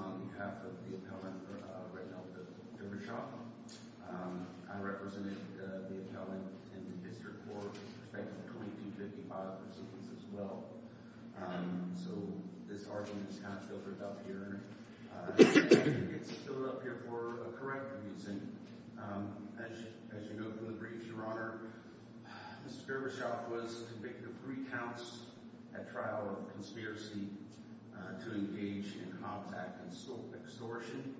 on behalf of the appellant, Reynald D. Dervishaj. I represented the appellant in the district court with respect to the 2255 proceedings as well. So this argument is kind of filtered up here. It's filtered up here for a correct reason. As you know from the brief, Your Honor, Mr. Dervishaj was convicted of three counts at trial for conspiracy to engage in Hobbs Act extortion.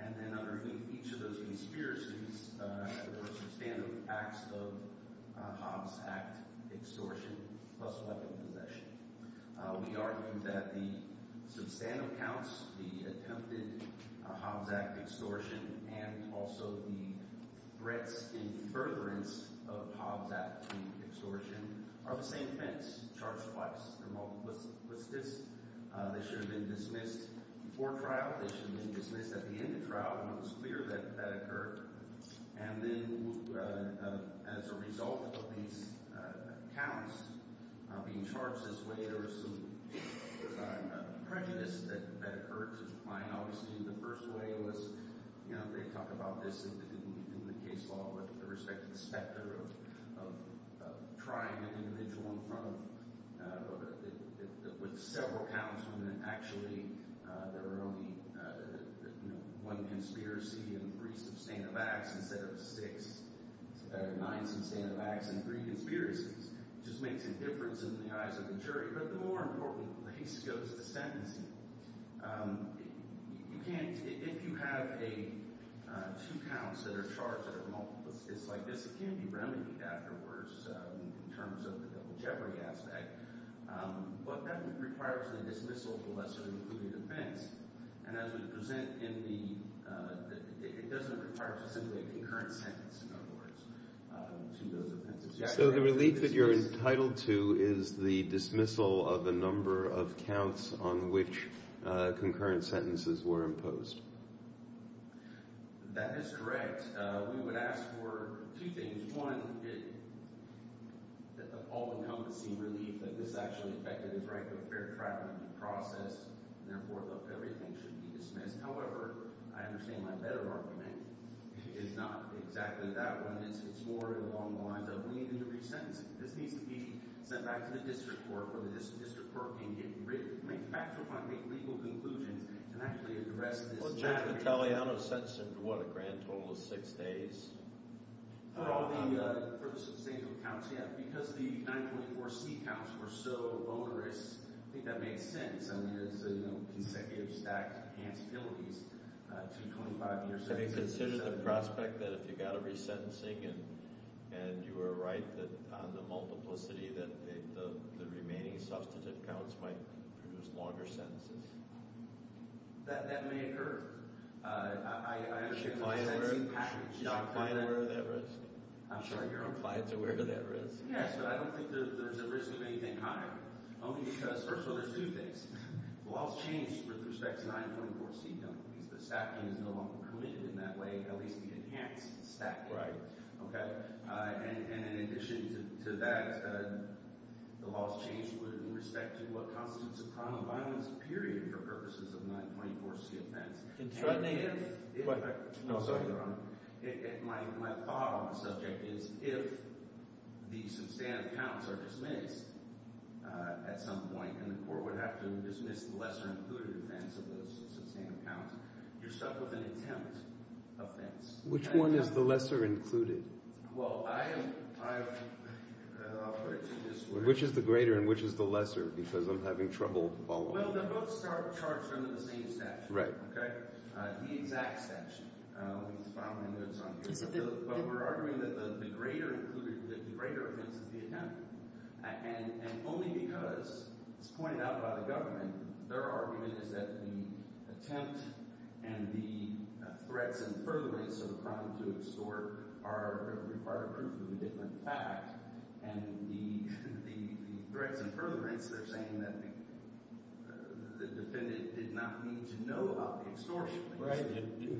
And then underneath each of those conspiracies were substantive acts of Hobbs Act extortion plus weapon possession. We argue that the substantive counts, the attempted Hobbs Act extortion, and also the threats in furtherance of Hobbs Act extortion are the same offense charged twice. They're multiplicity. They should have been dismissed before trial. They should have been dismissed at the end of trial when it was clear that that occurred. And then as a result of these counts being charged this way, there are some prejudices that occurred, which is fine, obviously. The first way was, you know, they talk about this in the case law with respect of trying an individual in front of several counts when actually there are only one conspiracy and three substantive acts instead of six, or nine substantive acts and three conspiracies, which just makes a difference in the eyes of the jury. But the more important case goes to sentencing. You can't, if you have two counts that are charged like this, it can be remedied afterwards in terms of the double jeopardy aspect. But that requires a dismissal of the lesser included offense. And as we present in the, it doesn't require to simply a concurrent sentence, in other words, to those offenses. So the relief that you're entitled to is the dismissal of the number of counts on which concurrent sentences were imposed. That is correct. We would ask for two things. One, the all-encompassing relief that this actually affected his right to a fair trial and a due process, and therefore, that everything should be dismissed. However, I understand my better argument is not exactly that one. It's more along the lines of we need a new re-sentencing. This needs to be sent back to the district court where the district court can get back to a point and make legal conclusions and actually address this matter. Well, Judge Vitaleano sentenced, what, a grand total of six days? For all the substantial counts, yeah. Because the 924C counts were so onerous, I think that makes sense. I mean, it's a consecutive stack of enhanceabilities to a 25-year sentence. Can you consider the prospect that if you got a re-sentencing and you were right on the multiplicity, that the remaining substantive counts might produce longer sentences? That may occur. I actually think that's a patent. Is your client aware of that risk? I'm sorry, your own client's aware of that risk? Yes, but I don't think there's a risk of anything higher, only because, first of all, there's two things. The law's changed with respect to 924C count. The stacking is no longer committed in that way, at least the enhanced stacking. And in addition to that, the law's changed with respect to what constitutes a crime of violence, period, for purposes of 924C offense. But, Nathan, if I can also add on, my thought on the subject is, if the substantive counts are dismissed at some point and the court would have to dismiss the lesser-included offense of those substantive counts, you're stuck with an intent offense. Which one is the lesser-included? Well, I'll put it to you this way. Which is the greater and which is the lesser? Because I'm having trouble following. Well, they're both charged under the same statute. Right. OK? The exact statute, which is found in the notes on here. But we're arguing that the greater included, the greater offense, is the attempt. And only because, as pointed out by the government, their argument is that the attempt and the threats and furtherments of a crime to extort are required proof of a different fact. And the threats and furtherments, they're saying that the defendant did not need to know about the extortion.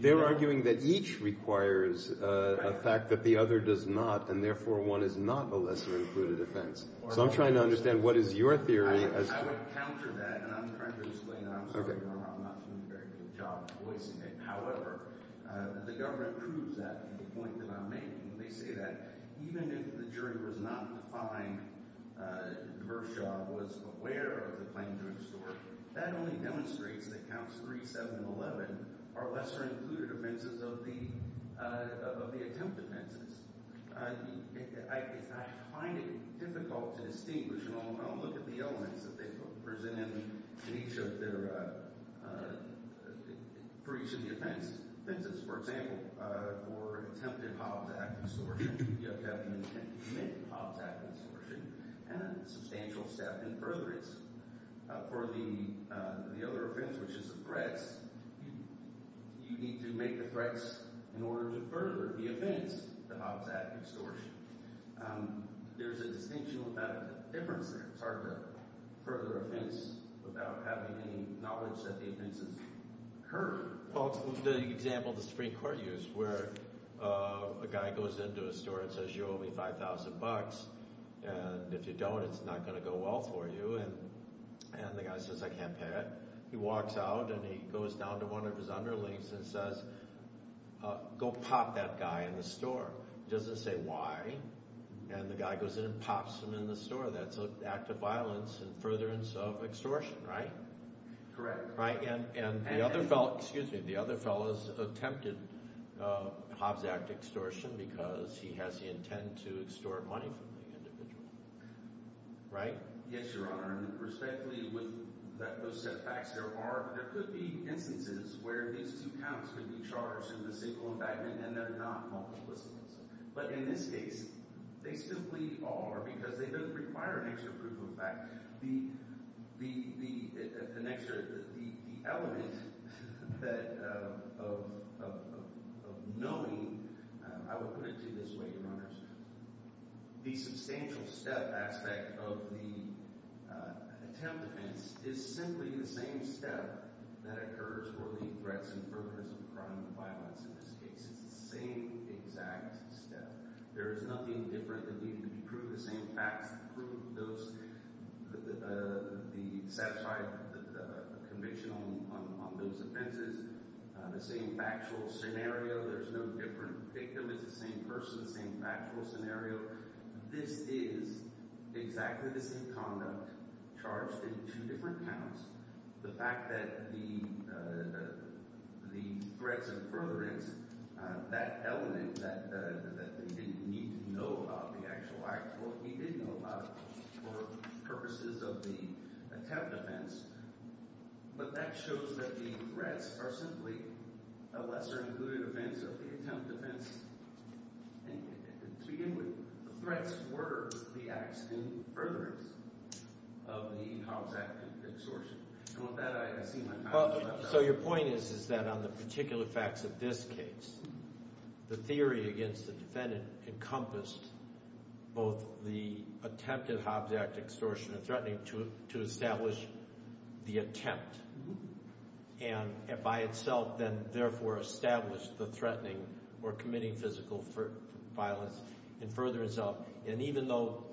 They're arguing that each requires a fact that the other does not. And therefore, one is not a lesser-included offense. So I'm trying to understand, what is your theory as to that? I would counter that. And I'm trying to explain that. I'm sorry, Your Honor. I'm not doing a very good job of voicing it. However, the government proves that in the point that I'm making. They say that even if the jury was not defined in Kershaw, was aware of the claim to extort, that only demonstrates that Counts 3, 7, and 11 are lesser-included offenses of the attempt offenses. I find it difficult to distinguish. And I'll look at the elements that they present in each of their, for each of the offenses. For example, for attempted Hobbs Act extortion, the defendant can commit Hobbs Act extortion, and a substantial step in furtherance. For the other offense, which is the threats, you need to make the threats in order to further the offense, the Hobbs Act extortion. There's a distinction about the difference there. It's hard to further offense without having any knowledge that the offense is heard. Well, the example the Supreme Court used, where a guy goes into a store and says, you owe me $5,000. And if you don't, it's not going to go well for you. And the guy says, I can't pay it. He walks out, and he goes down to one of his underlings and says, go pop that guy in the store. He doesn't say why. And the guy goes in and pops him in the store. That's an act of violence in furtherance of extortion, right? Correct. Right? And the other fellow, excuse me, the other fellows attempted Hobbs Act extortion because he has the intent to extort money from the individual. Right? Yes, Your Honor. And respectfully, with those set of facts, there could be instances where these two counts could be charged in the single embankment, and they're not multiplicities. But in this case, they simply are, because they don't require an extra proof of fact. The element of knowing, I will put it this way, Your Honors, the substantial step aspect of the attempt offense is simply the same step that occurs for the threats and furtherance of crime and violence in this case. It's the same exact step. There is nothing different that needed to be proved. The same facts that prove the satisfied conviction on those offenses, the same factual scenario, there's no different victim. It's the same person, the same factual scenario. This is exactly the same conduct charged in two different counts. The fact that the threats and furtherance, that element that they didn't need to know about the actual act, well, he did know about it for purposes of the attempt offense. But that shows that the threats are simply a lesser-included offense of the attempt offense. To begin with, the threats were the acts and furtherance of the Hobbs Act extortion. And with that, I see my time is up. So your point is that on the particular facts of this case, the theory against the defendant encompassed both the attempt at Hobbs Act extortion and threatening to establish the attempt. And by itself, then, therefore, established the threatening or committing physical violence in furtherance of. And even though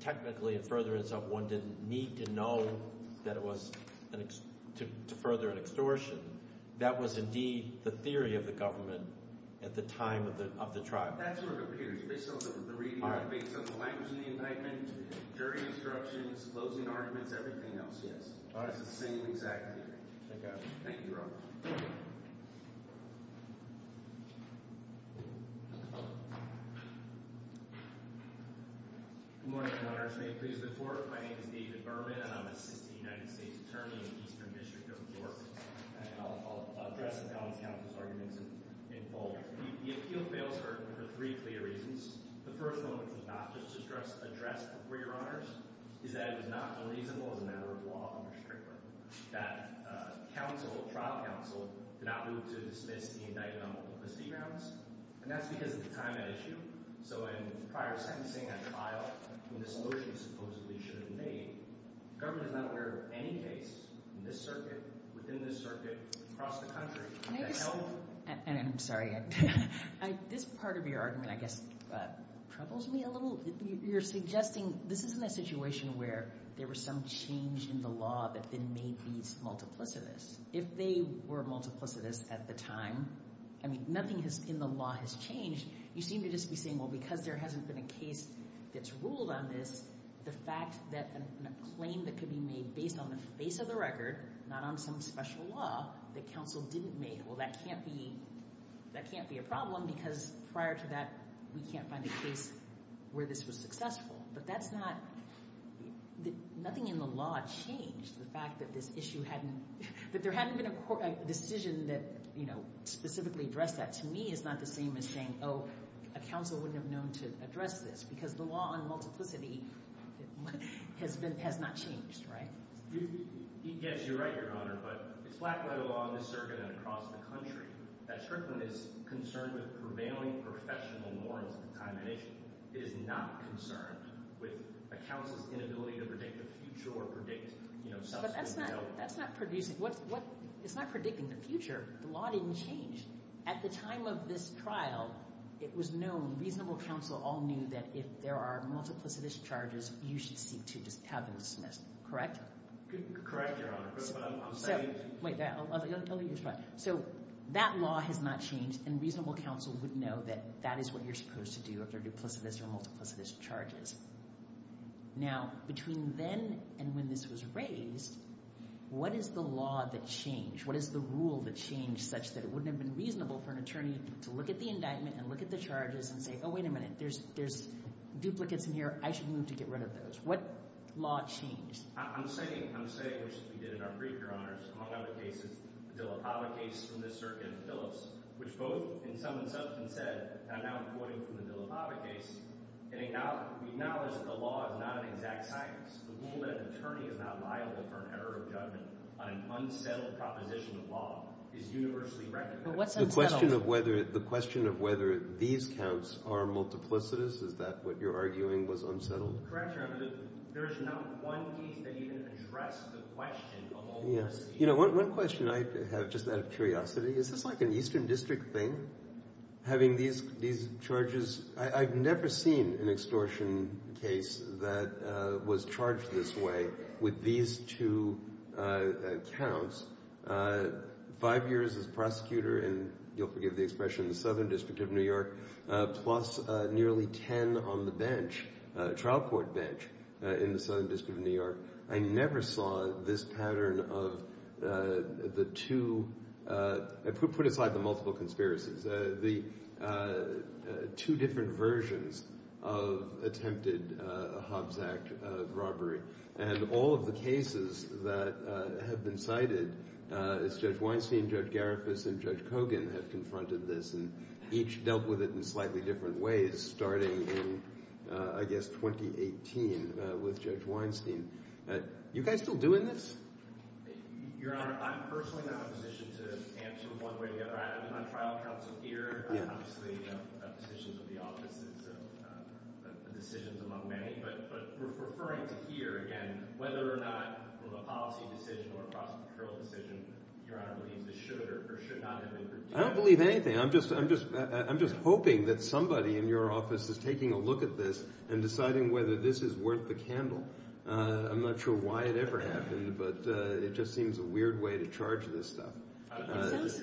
technically, in furtherance of, one didn't need to know that it was to further an extortion, that was indeed the theory of the government at the time of the trial. That's where it appears. Based on the reading, based on the language of the indictment, jury instructions, closing arguments, everything else, yes. All right, it's the same exact theory. Thank you. Thank you, Your Honor. Go ahead. Good morning, Your Honor. If you may please look forward, my name is David Berman, and I'm assistant United States Attorney in the Eastern District of New York. And I'll address the balance counsel's arguments in full. The appeal fails for three clear reasons. The first one is not just addressed for Your Honors, is that it was not unreasonable as a member of law under Strickland that trial counsel did not move to dismiss the indictment on multiplicity grounds. And that's because at the time at issue, so in prior sentencing at trial, when this motion supposedly should have made, the government is not aware of any case in this circuit, within this circuit, across the country, that held. And I'm sorry. This part of your argument, I guess, troubles me a little. You're suggesting this isn't a situation where there was some change in the law that then made these multiplicities. If they were multiplicities at the time, I mean, nothing in the law has changed. You seem to just be saying, well, because there hasn't been a case that's ruled on this, the fact that a claim that could be made based on the face of the record, not on some special law, that counsel didn't make, well, that can't be a problem. Because prior to that, we can't find a case where this was successful. But that's not, nothing in the law changed the fact that this issue hadn't, that there hadn't been a decision that, you know, specifically addressed that. To me, it's not the same as saying, oh, a counsel wouldn't have known to address this. Because the law on multiplicity has been, has not changed, right? Yes, you're right, Your Honor. But it's lack of a law in this circuit and across the country that Strickland is concerned with prevailing professional morals of the time and age is not concerned with a counsel's inability to predict the future or predict subsequent development. That's not producing, it's not predicting the future. The law didn't change. At the time of this trial, it was known, reasonable counsel all knew that if there are multiplicity charges, you should seek to just have them dismissed, correct? Correct, Your Honor, but I'm saying. Wait, I'll let you respond. So that law has not changed, and reasonable counsel would know that that is what you're supposed to do if there are duplicitous or multiplicitous charges. Now, between then and when this was raised, what is the law that changed? What is the rule that changed such that it wouldn't have been reasonable for an attorney to look at the indictment and look at the charges and say, oh, wait a minute. There's duplicates in here, I should move to get rid of those. What law changed? I'm saying, which we did in our brief, Your Honors, among other cases, the LaPava case from the Circuit of Phillips, which both in sum and substance said, and I'm now quoting from the LaPava case, we acknowledge that the law is not an exact science. The rule that an attorney is not liable for an error of judgment on an unsettled proposition of law is universally recognized. But what's unsettled? The question of whether these counts are multiplicitous, is that what you're arguing was unsettled? Correct, Your Honor. There is not one case that even addressed the question of all those cases. You know, one question I have, just out of curiosity, is this like an Eastern District thing, having these charges? I've never seen an extortion case that was charged this way with these two counts. Five years as prosecutor in, you'll forgive the expression, the Southern District of New York, plus nearly 10 on the trial court bench in the Southern District of New York. I never saw this pattern of the two, put aside the multiple conspiracies, the two different versions of attempted Hobbs Act robbery. And all of the cases that have been cited, as Judge Weinstein, Judge Garifas, and Judge Kogan have confronted this, and each dealt with it in slightly different ways, starting in, I guess, 2018 with Judge Weinstein. You guys still doing this? Your Honor, I'm personally not in a position to answer one way or the other. I'm on trial counsel here, and I'm obviously in positions of the office, and so the decision's among many. But referring to here, again, whether or not with a policy decision or a prosecutorial decision, Your Honor believes it should or should not have been. I don't believe anything. I'm just hoping that somebody in your office is taking a look at this and deciding whether this is worth the candle. I'm not sure why it ever happened, but it just seems a weird way to charge this stuff. In a sense,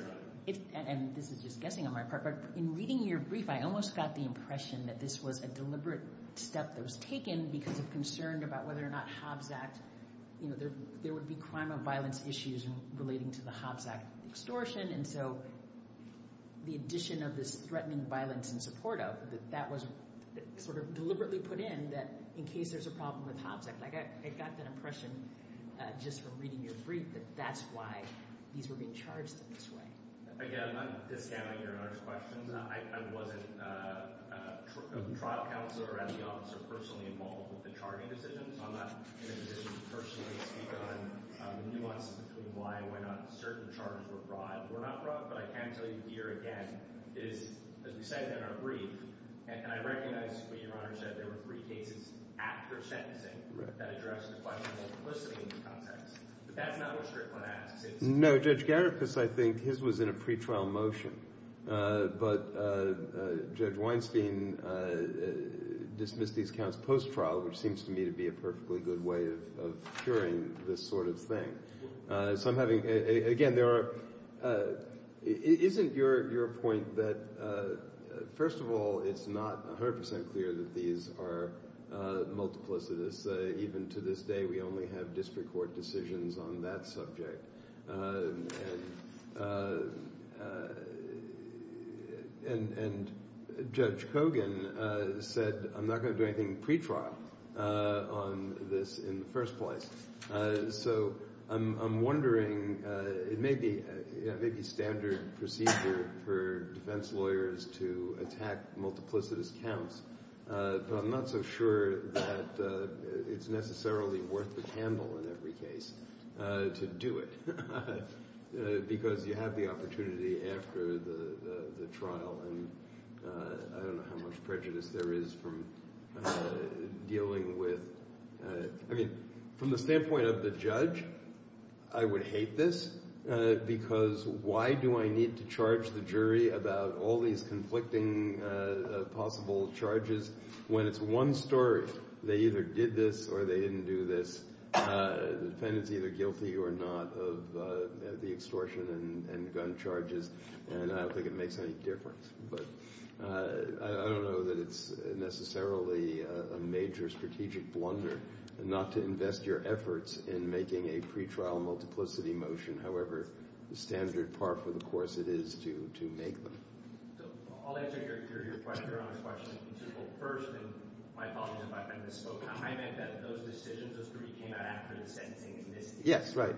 and this is just guessing on my part, but in reading your brief, I almost got the impression that this was a deliberate step that was taken because of concern about whether or not Hobbs Act, there would be crime of violence issues relating to the Hobbs Act extortion. And so the addition of this threatening violence in support of, that that was sort of deliberately put in that in case there's a problem with Hobbs Act. Like, I got that impression just from reading your brief that that's why these were being charged in this way. Again, I'm discounting Your Honor's questions. I wasn't a trial counselor. I'm the officer personally involved with the charging decisions. I'm not in a position to personally speak on the nuances between why and why not certain charges were brought. They were not brought, but I can tell you here again, it is, as we said in our brief, and I recognize what Your Honor said, there were three cases after sentencing that addressed the question of complicity in the context. But that's not what Strickland asks. No, Judge Garifuss, I think his was in a pretrial motion. But Judge Weinstein dismissed these counts post-trial, which seems to me to be a perfectly good way of curing this sort of thing. So I'm having, again, there are, isn't it your point that, first of all, it's not 100% clear that these are multiplicitous. Even to this day, we only have district court decisions on that subject. And Judge Kogan said, I'm not going to do anything pretrial on this in the first place. So I'm wondering, it may be standard procedure for defense lawyers to attack multiplicitous counts. But I'm not so sure that it's necessarily worth the candle in every case to do it, because you have the opportunity after the trial. And I don't know how much prejudice there is from dealing with, I mean, from the standpoint of the judge, I would hate this. Because why do I need to charge the jury about all these conflicting possible charges when it's one story? They either did this or they didn't do this. The defendant's either guilty or not of the extortion and gun charges. And I don't think it makes any difference. But I don't know that it's necessarily a major strategic blunder not to invest your efforts in making a pretrial multiplicity motion, however standard par for the course it is to make them. I'll answer your question first. And my apologies if I misspoke. I meant that those decisions, those three came out after the sentencing is missed. Yes, right.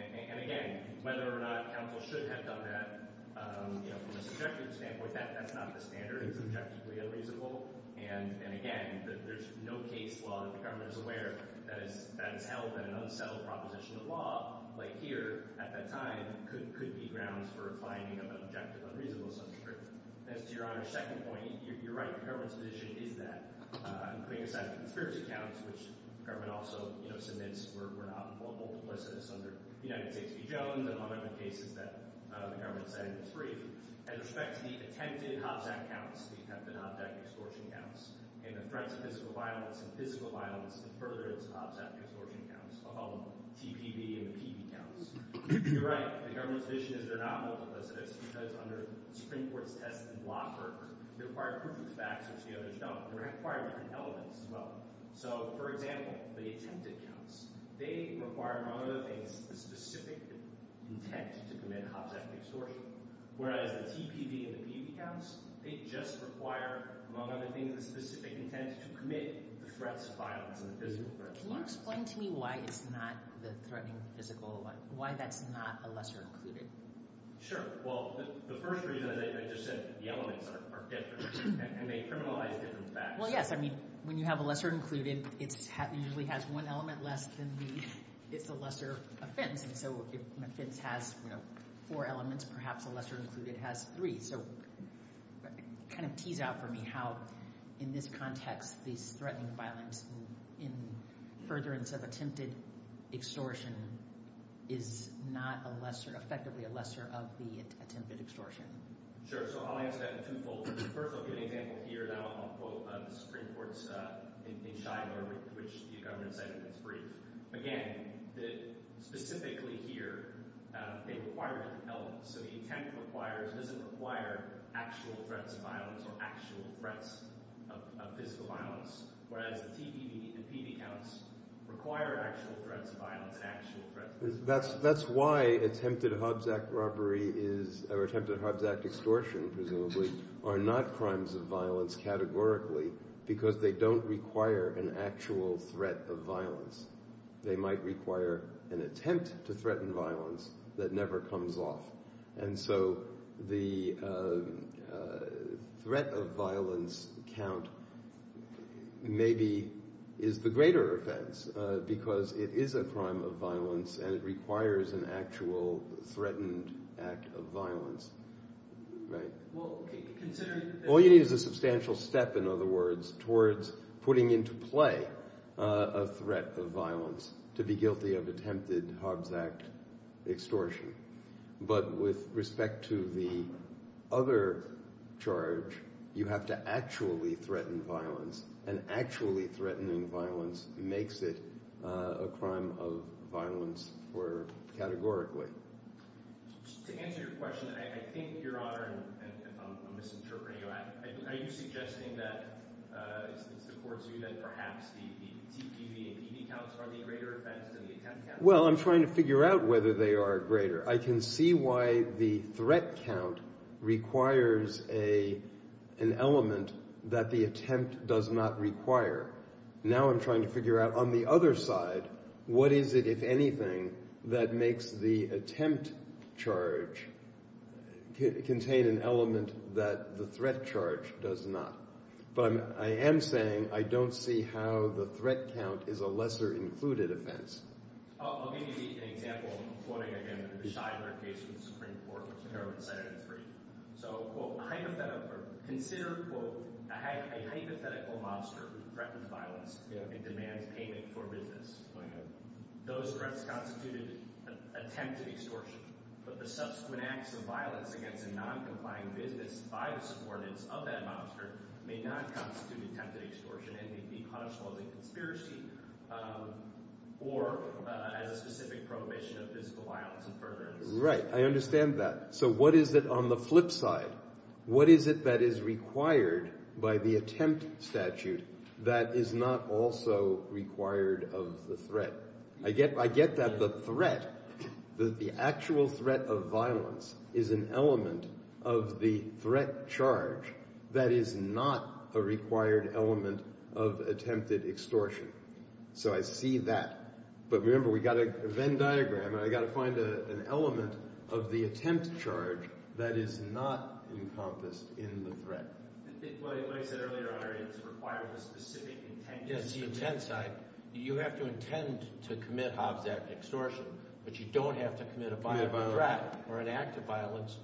And again, whether or not counsel should have done that, from a subjective standpoint, that's not the standard. It's objectively unreasonable. And again, there's no case law that the government is aware that has held that an unsettled proposition of law, like here, at that time, could be grounds for a finding of an objective unreasonable substantive. As to Your Honor's second point, you're right. The government's position is that, including a set of conspiracy counts, which the government also submits were not multiplicitous under United States v. Jones, among other cases that the government said it was free. As respect to the attempted hopsack counts, the attempted hopsack extortion counts, and the threats of physical violence and physical violence to furtherance hopsack extortion counts, among TPB and the PB counts, you're right. The government's vision is they're not multiplicitous because, under Supreme Court's test and law firm, they require proof of facts, which the others don't. They require different elements as well. So for example, the attempted counts, they require, among other things, a specific intent to commit hopsack extortion. Whereas the TPB and the PB counts, they just require, among other things, a specific intent to commit the threats of violence and the physical threats of violence. Can you explain to me why it's not the threatening physical, why that's not a lesser included? Sure. Well, the first reason, as I just said, the elements are different. And they criminalize different facts. Well, yes. I mean, when you have a lesser included, it usually has one element less than the lesser offense. And so if an offense has four elements, perhaps a lesser included has three. So kind of tease out for me how, in this context, this threatening violence in furtherance of attempted extortion is not effectively a lesser of the attempted extortion. Sure. So I'll answer that in two folders. First, I'll give an example here. And then I'll quote the Supreme Court's in Shimer, which the governor said in his brief. Again, specifically here, they require different elements. So the attempt doesn't require actual threats of violence or actual threats of physical violence, whereas the TB and PB counts require actual threats of violence and actual threats of violence. That's why attempted Hobbs Act extortion, presumably, are not crimes of violence categorically, because they don't require an actual threat of violence. They might require an attempt to threaten violence that never comes off. And so the threat of violence count maybe is the greater offense, because it is a crime of violence, and it requires an actual threatened act of violence. All you need is a substantial step, in other words, towards putting into play a threat of violence to be guilty of attempted Hobbs Act extortion. But with respect to the other charge, you have to actually threaten violence. And actually threatening violence makes it a crime of violence categorically. To answer your question, I think, Your Honor, I'm misinterpreting you. Are you suggesting that it's the court's view that perhaps the TB and PB counts are the greater offenses than the attempt counts? Well, I'm trying to figure out whether they are greater. I can see why the threat count requires an element that the attempt does not require. Now I'm trying to figure out, on the other side, what is it, if anything, that makes the attempt charge contain an element that the threat charge does not? But I am saying, I don't see how the threat count is a lesser included offense. I'll give you an example, quoting, again, the Scheidler case from the Supreme Court, which I know was cited in three. So consider, quote, a hypothetical mobster who threatens violence and demands payment for business. Those threats constitute an attempt at extortion. But the subsequent acts of violence against a non-compliant business by the supporters of that mobster may not constitute attempted extortion and may be punishable as a conspiracy or as a specific prohibition of physical violence and further injustice. Right, I understand that. So what is it, on the flip side, what is it that is required by the attempt statute that is not also required of the threat? I get that the threat, the actual threat of violence, is an element of the threat charge that is not a required element of attempted extortion. So I see that. But remember, we've got a Venn diagram, and I've got to find an element of the attempt charge that is not encompassed in the threat. Like I said earlier, it's required with a specific intent. Yes, the intent side. You have to intend to commit Hobbs Act extortion, but you don't have to commit a violent threat or an act of violence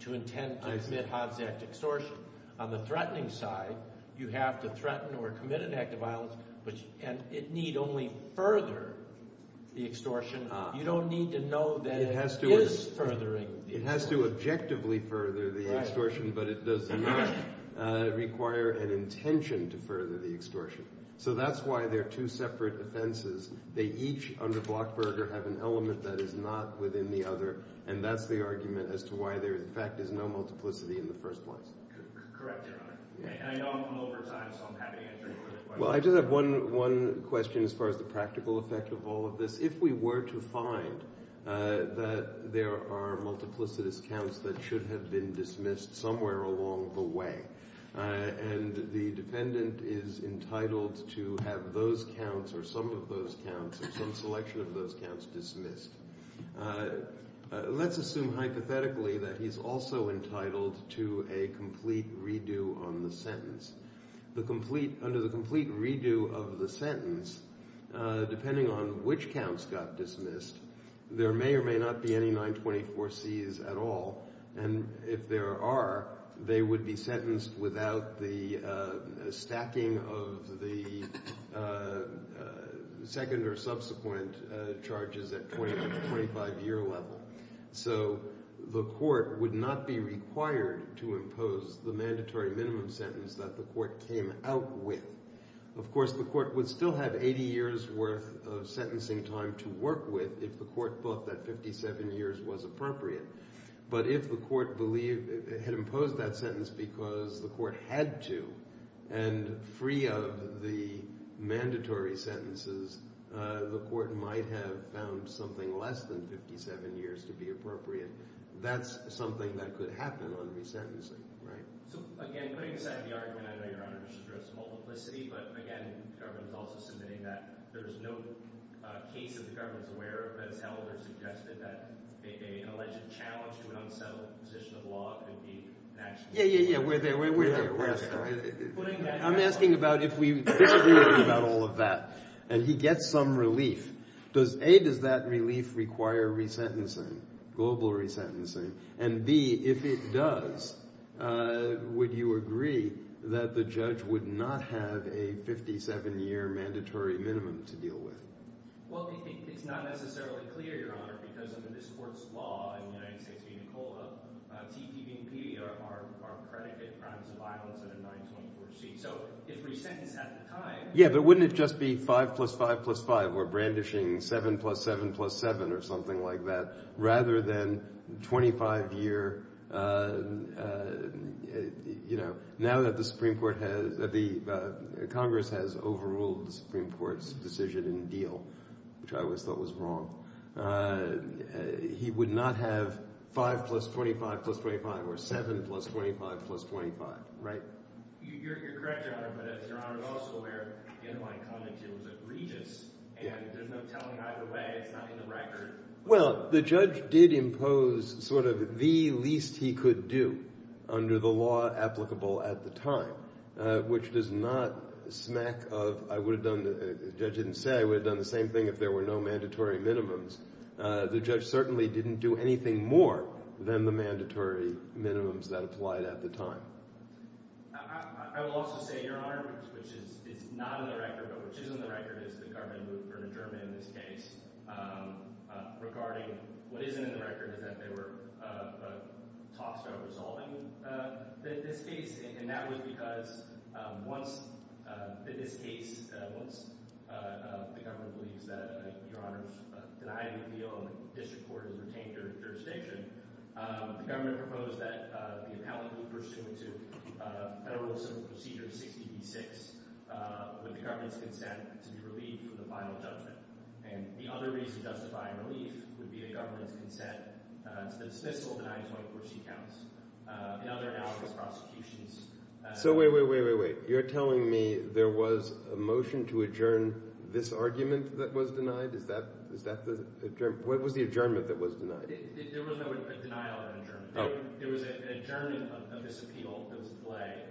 to intend to commit Hobbs Act extortion. On the threatening side, you have to threaten or commit an act of violence, and it need only further the extortion. You don't need to know that it is furthering the extortion. It has to objectively further the extortion, but it does not require an intention to further the extortion. So that's why they're two separate offenses. They each, under Blockberger, have an element that is not within the other. And that's the argument as to why there, in fact, is no multiplicity in the first place. Correct, Your Honor. I know I'm over time, so I'm happy to answer your other questions. Well, I just have one question as far as the practical effect of all of this. If we were to find that there are multiplicitous counts that should have been dismissed somewhere along the way, and the defendant is entitled to have those counts, or some of those counts, or some selection of those counts dismissed, let's assume hypothetically that he's also entitled to a complete redo on the sentence. Under the complete redo of the sentence, depending on which counts got dismissed, there may or may not be any 924Cs at all. And if there are, they would be sentenced without the stacking of the second or subsequent charges at 25-year level. So the court would not be required to impose the mandatory minimum sentence that the court came out with. Of course, the court would still have 80 years worth of sentencing time to work with if the court thought that 57 years was appropriate. But if the court had imposed that sentence because the court had to, and free of the mandatory sentences, the court might have found something less than 57 years to be appropriate. That's something that could happen on resentencing, right? So again, putting aside the argument, I know Your Honor just addressed multiplicity. But again, the government's also submitting that there is no case that the government's aware of that's held or suggested that an alleged challenge to an unsettled position of law could be an action. Yeah, yeah, yeah, we're there. We're there. I'm asking about if we disagree about all of that. And he gets some relief. Does A, does that relief require resentencing, global resentencing? And B, if it does, would you agree that the judge would not have a 57-year mandatory minimum to deal with? Well, it's not necessarily clear, Your Honor, because under this court's law in the United States being a COLA, T, P, and P are predicate crimes of violence under 924C. So if resentence had the time. Yeah, but wouldn't it just be 5 plus 5 plus 5, or brandishing 7 plus 7 plus 7, or something like that, rather than 25-year, you know, now that the Congress has overruled the Supreme Court's decision and deal, which I always thought was wrong, he would not have 5 plus 25 plus 25, or 7 plus 25 plus 25, right? You're correct, Your Honor, but as Your Honor is also aware, in my comment to you, it was egregious. And there's no telling either way. It's not in the record. Well, the judge did impose sort of the least he could do under the law applicable at the time, which does not smack of, I would have done, the judge didn't say I would have done the same thing if there were no mandatory minimums. The judge certainly didn't do anything more than the mandatory minimums that applied at the time. I will also say, Your Honor, which is not in the record, but which is in the record is the government moved for an adjournment in this case regarding what isn't in the record is that they were tossed out And that was because once this case, once the government believes that, Your Honor, denied the appeal, and the district court has retained their jurisdiction, the government proposed that the appellate be pursuant to Federal Civil Procedure 60B-6 with the government's consent to be relieved from the final judgment. And the other reason justifying relief would be the government's consent to dismissal of the 924C counts. In other analogous prosecutions, So wait, wait, wait, wait, wait. You're telling me there was a motion to adjourn this argument that was denied? Is that the adjournment? What was the adjournment that was denied? There was no denial of adjournment. There was an adjournment of this appeal that was delayed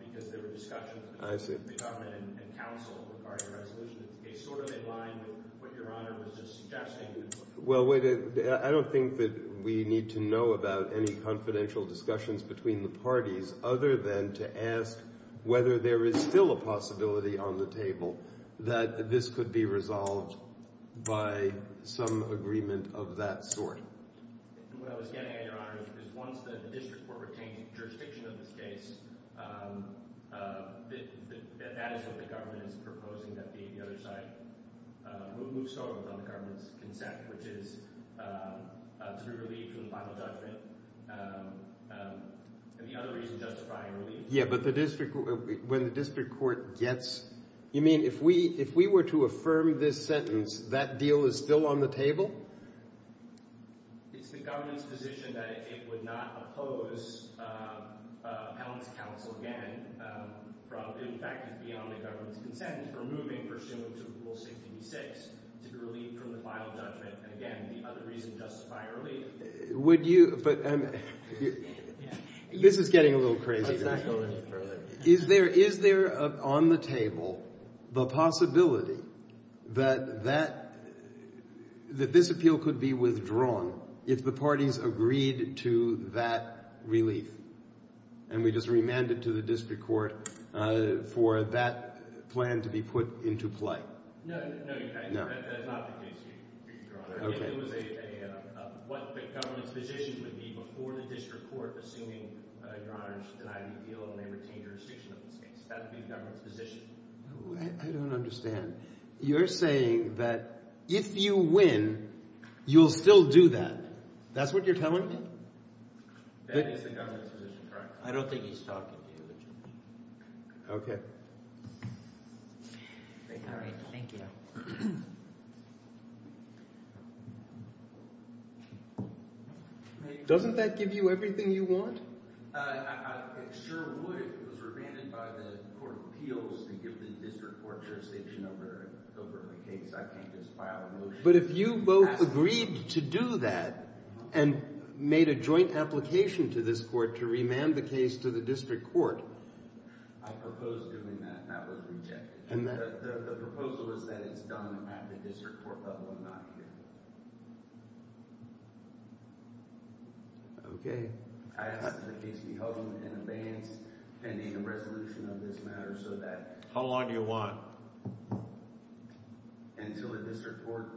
because there were discussions between the government and counsel regarding the resolution of this case sort of in line with what Your Honor was just suggesting. Well, wait, I don't think that we need to know about any confidential discussions between the parties other than to ask whether there is still a possibility on the table that this could be resolved by some agreement of that sort. What I was getting at, Your Honor, is once the district court retains jurisdiction of this case, that is what the government is proposing that be the other side. We'll move so on the government's consent, which is to be relieved from the final judgment. And the other reason justifying relief... Yeah, but the district... When the district court gets... You mean if we were to affirm this sentence, that deal is still on the table? It's the government's position that it would not oppose appellant's counsel again. In fact, it's beyond the government's consent. We're moving pursuant to Rule 66 to relieve from the final judgment. And again, the other reason justifying relief... Would you... This is getting a little crazy. Is there on the table the possibility that this appeal could be withdrawn if the parties agreed to that relief? And we just remand it to the district court for that plan to be put into play. No, Your Honor. That's not the case, Your Honor. What the government's position would be before the district court, assuming Your Honor should deny the appeal and they retain jurisdiction of this case. That would be the government's position. I don't understand. You're saying that if you win, you'll still do that. That's what you're telling me? That is the government's position, correct. I don't think he's talking to you. Okay. All right. Thank you. Okay. Doesn't that give you everything you want? It sure would if it was remanded by the court of appeals to give the district court jurisdiction over the case. I can't just file a motion... But if you both agreed to do that and made a joint application to this court to remand the case to the district court... I proposed doing that, and that was rejected. The proposal is that it's done at the district court level and not here. Okay. I ask that the case be held in advance pending the resolution of this matter so that... How long do you want? Until the district court...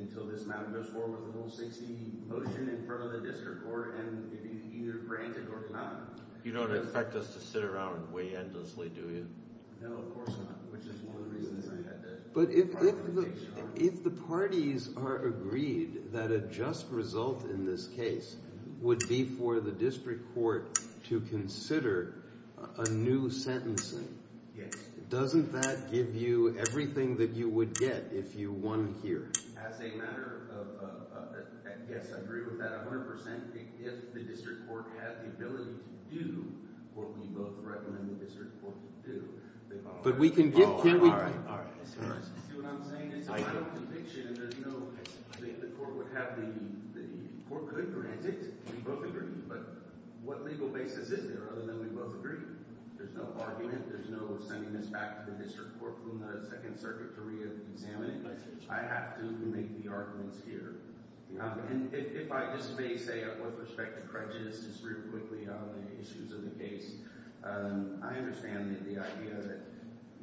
Until this matter goes forward with a Rule 60 motion in front of the district court and it is either granted or not. You don't expect us to sit around and wait endlessly, do you? No, of course not. Which is one of the reasons I had to... But if the parties are agreed that a just result in this case would be for the district court to consider a new sentencing... Yes. Doesn't that give you everything that you would get if you won here? As a matter of... Yes, I agree with that 100%. If the district court had the ability to do what we both recommend the district court to do... But we can get... See what I'm saying? It's a final conviction. The court would have the... The court could grant it. We both agree. But what legal basis is there other than we both agree? There's no argument. There's no sending this back to the district court for the Second Circuit to re-examine it. I have to make the arguments here. And if I just may say with respect to Crudges just real quickly on the issues of the case I understand that the idea that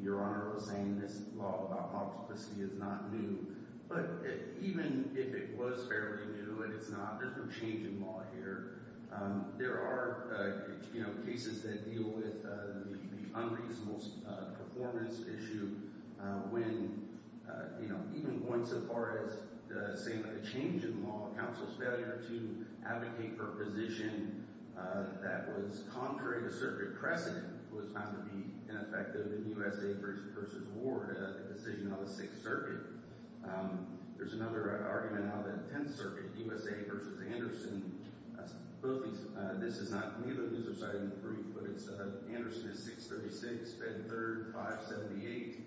Your Honor was saying this law about multiplicity is not new but even if it was fairly new and it's not, there's no change in law here. There are cases that deal with the unreasonable performance issue when even going so far as saying that the change in law counsel's failure to advocate for a position that was contrary to Circuit Crescent was found to be ineffective in USA v. Ward the decision of the Sixth Circuit. There's another argument out of the Tenth Circuit, USA v. Anderson both these... Neither of these are cited in the brief but Anderson is 636 Fed 3rd 578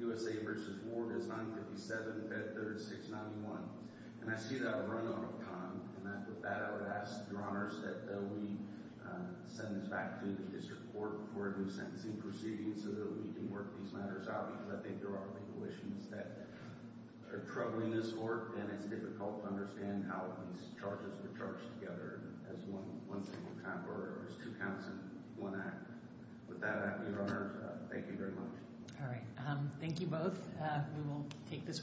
USA v. Ward is 957 Fed 3rd 691 and I see that run out of time and with that I would ask Your Honor that we send this back to the District Court for a new sentencing proceeding so that we can work these matters out because I think there are legal issues that are troubling this Court and it's difficult to understand how these charges were charged together as one single time order or as two counts in one act with that Your Honor thank you very much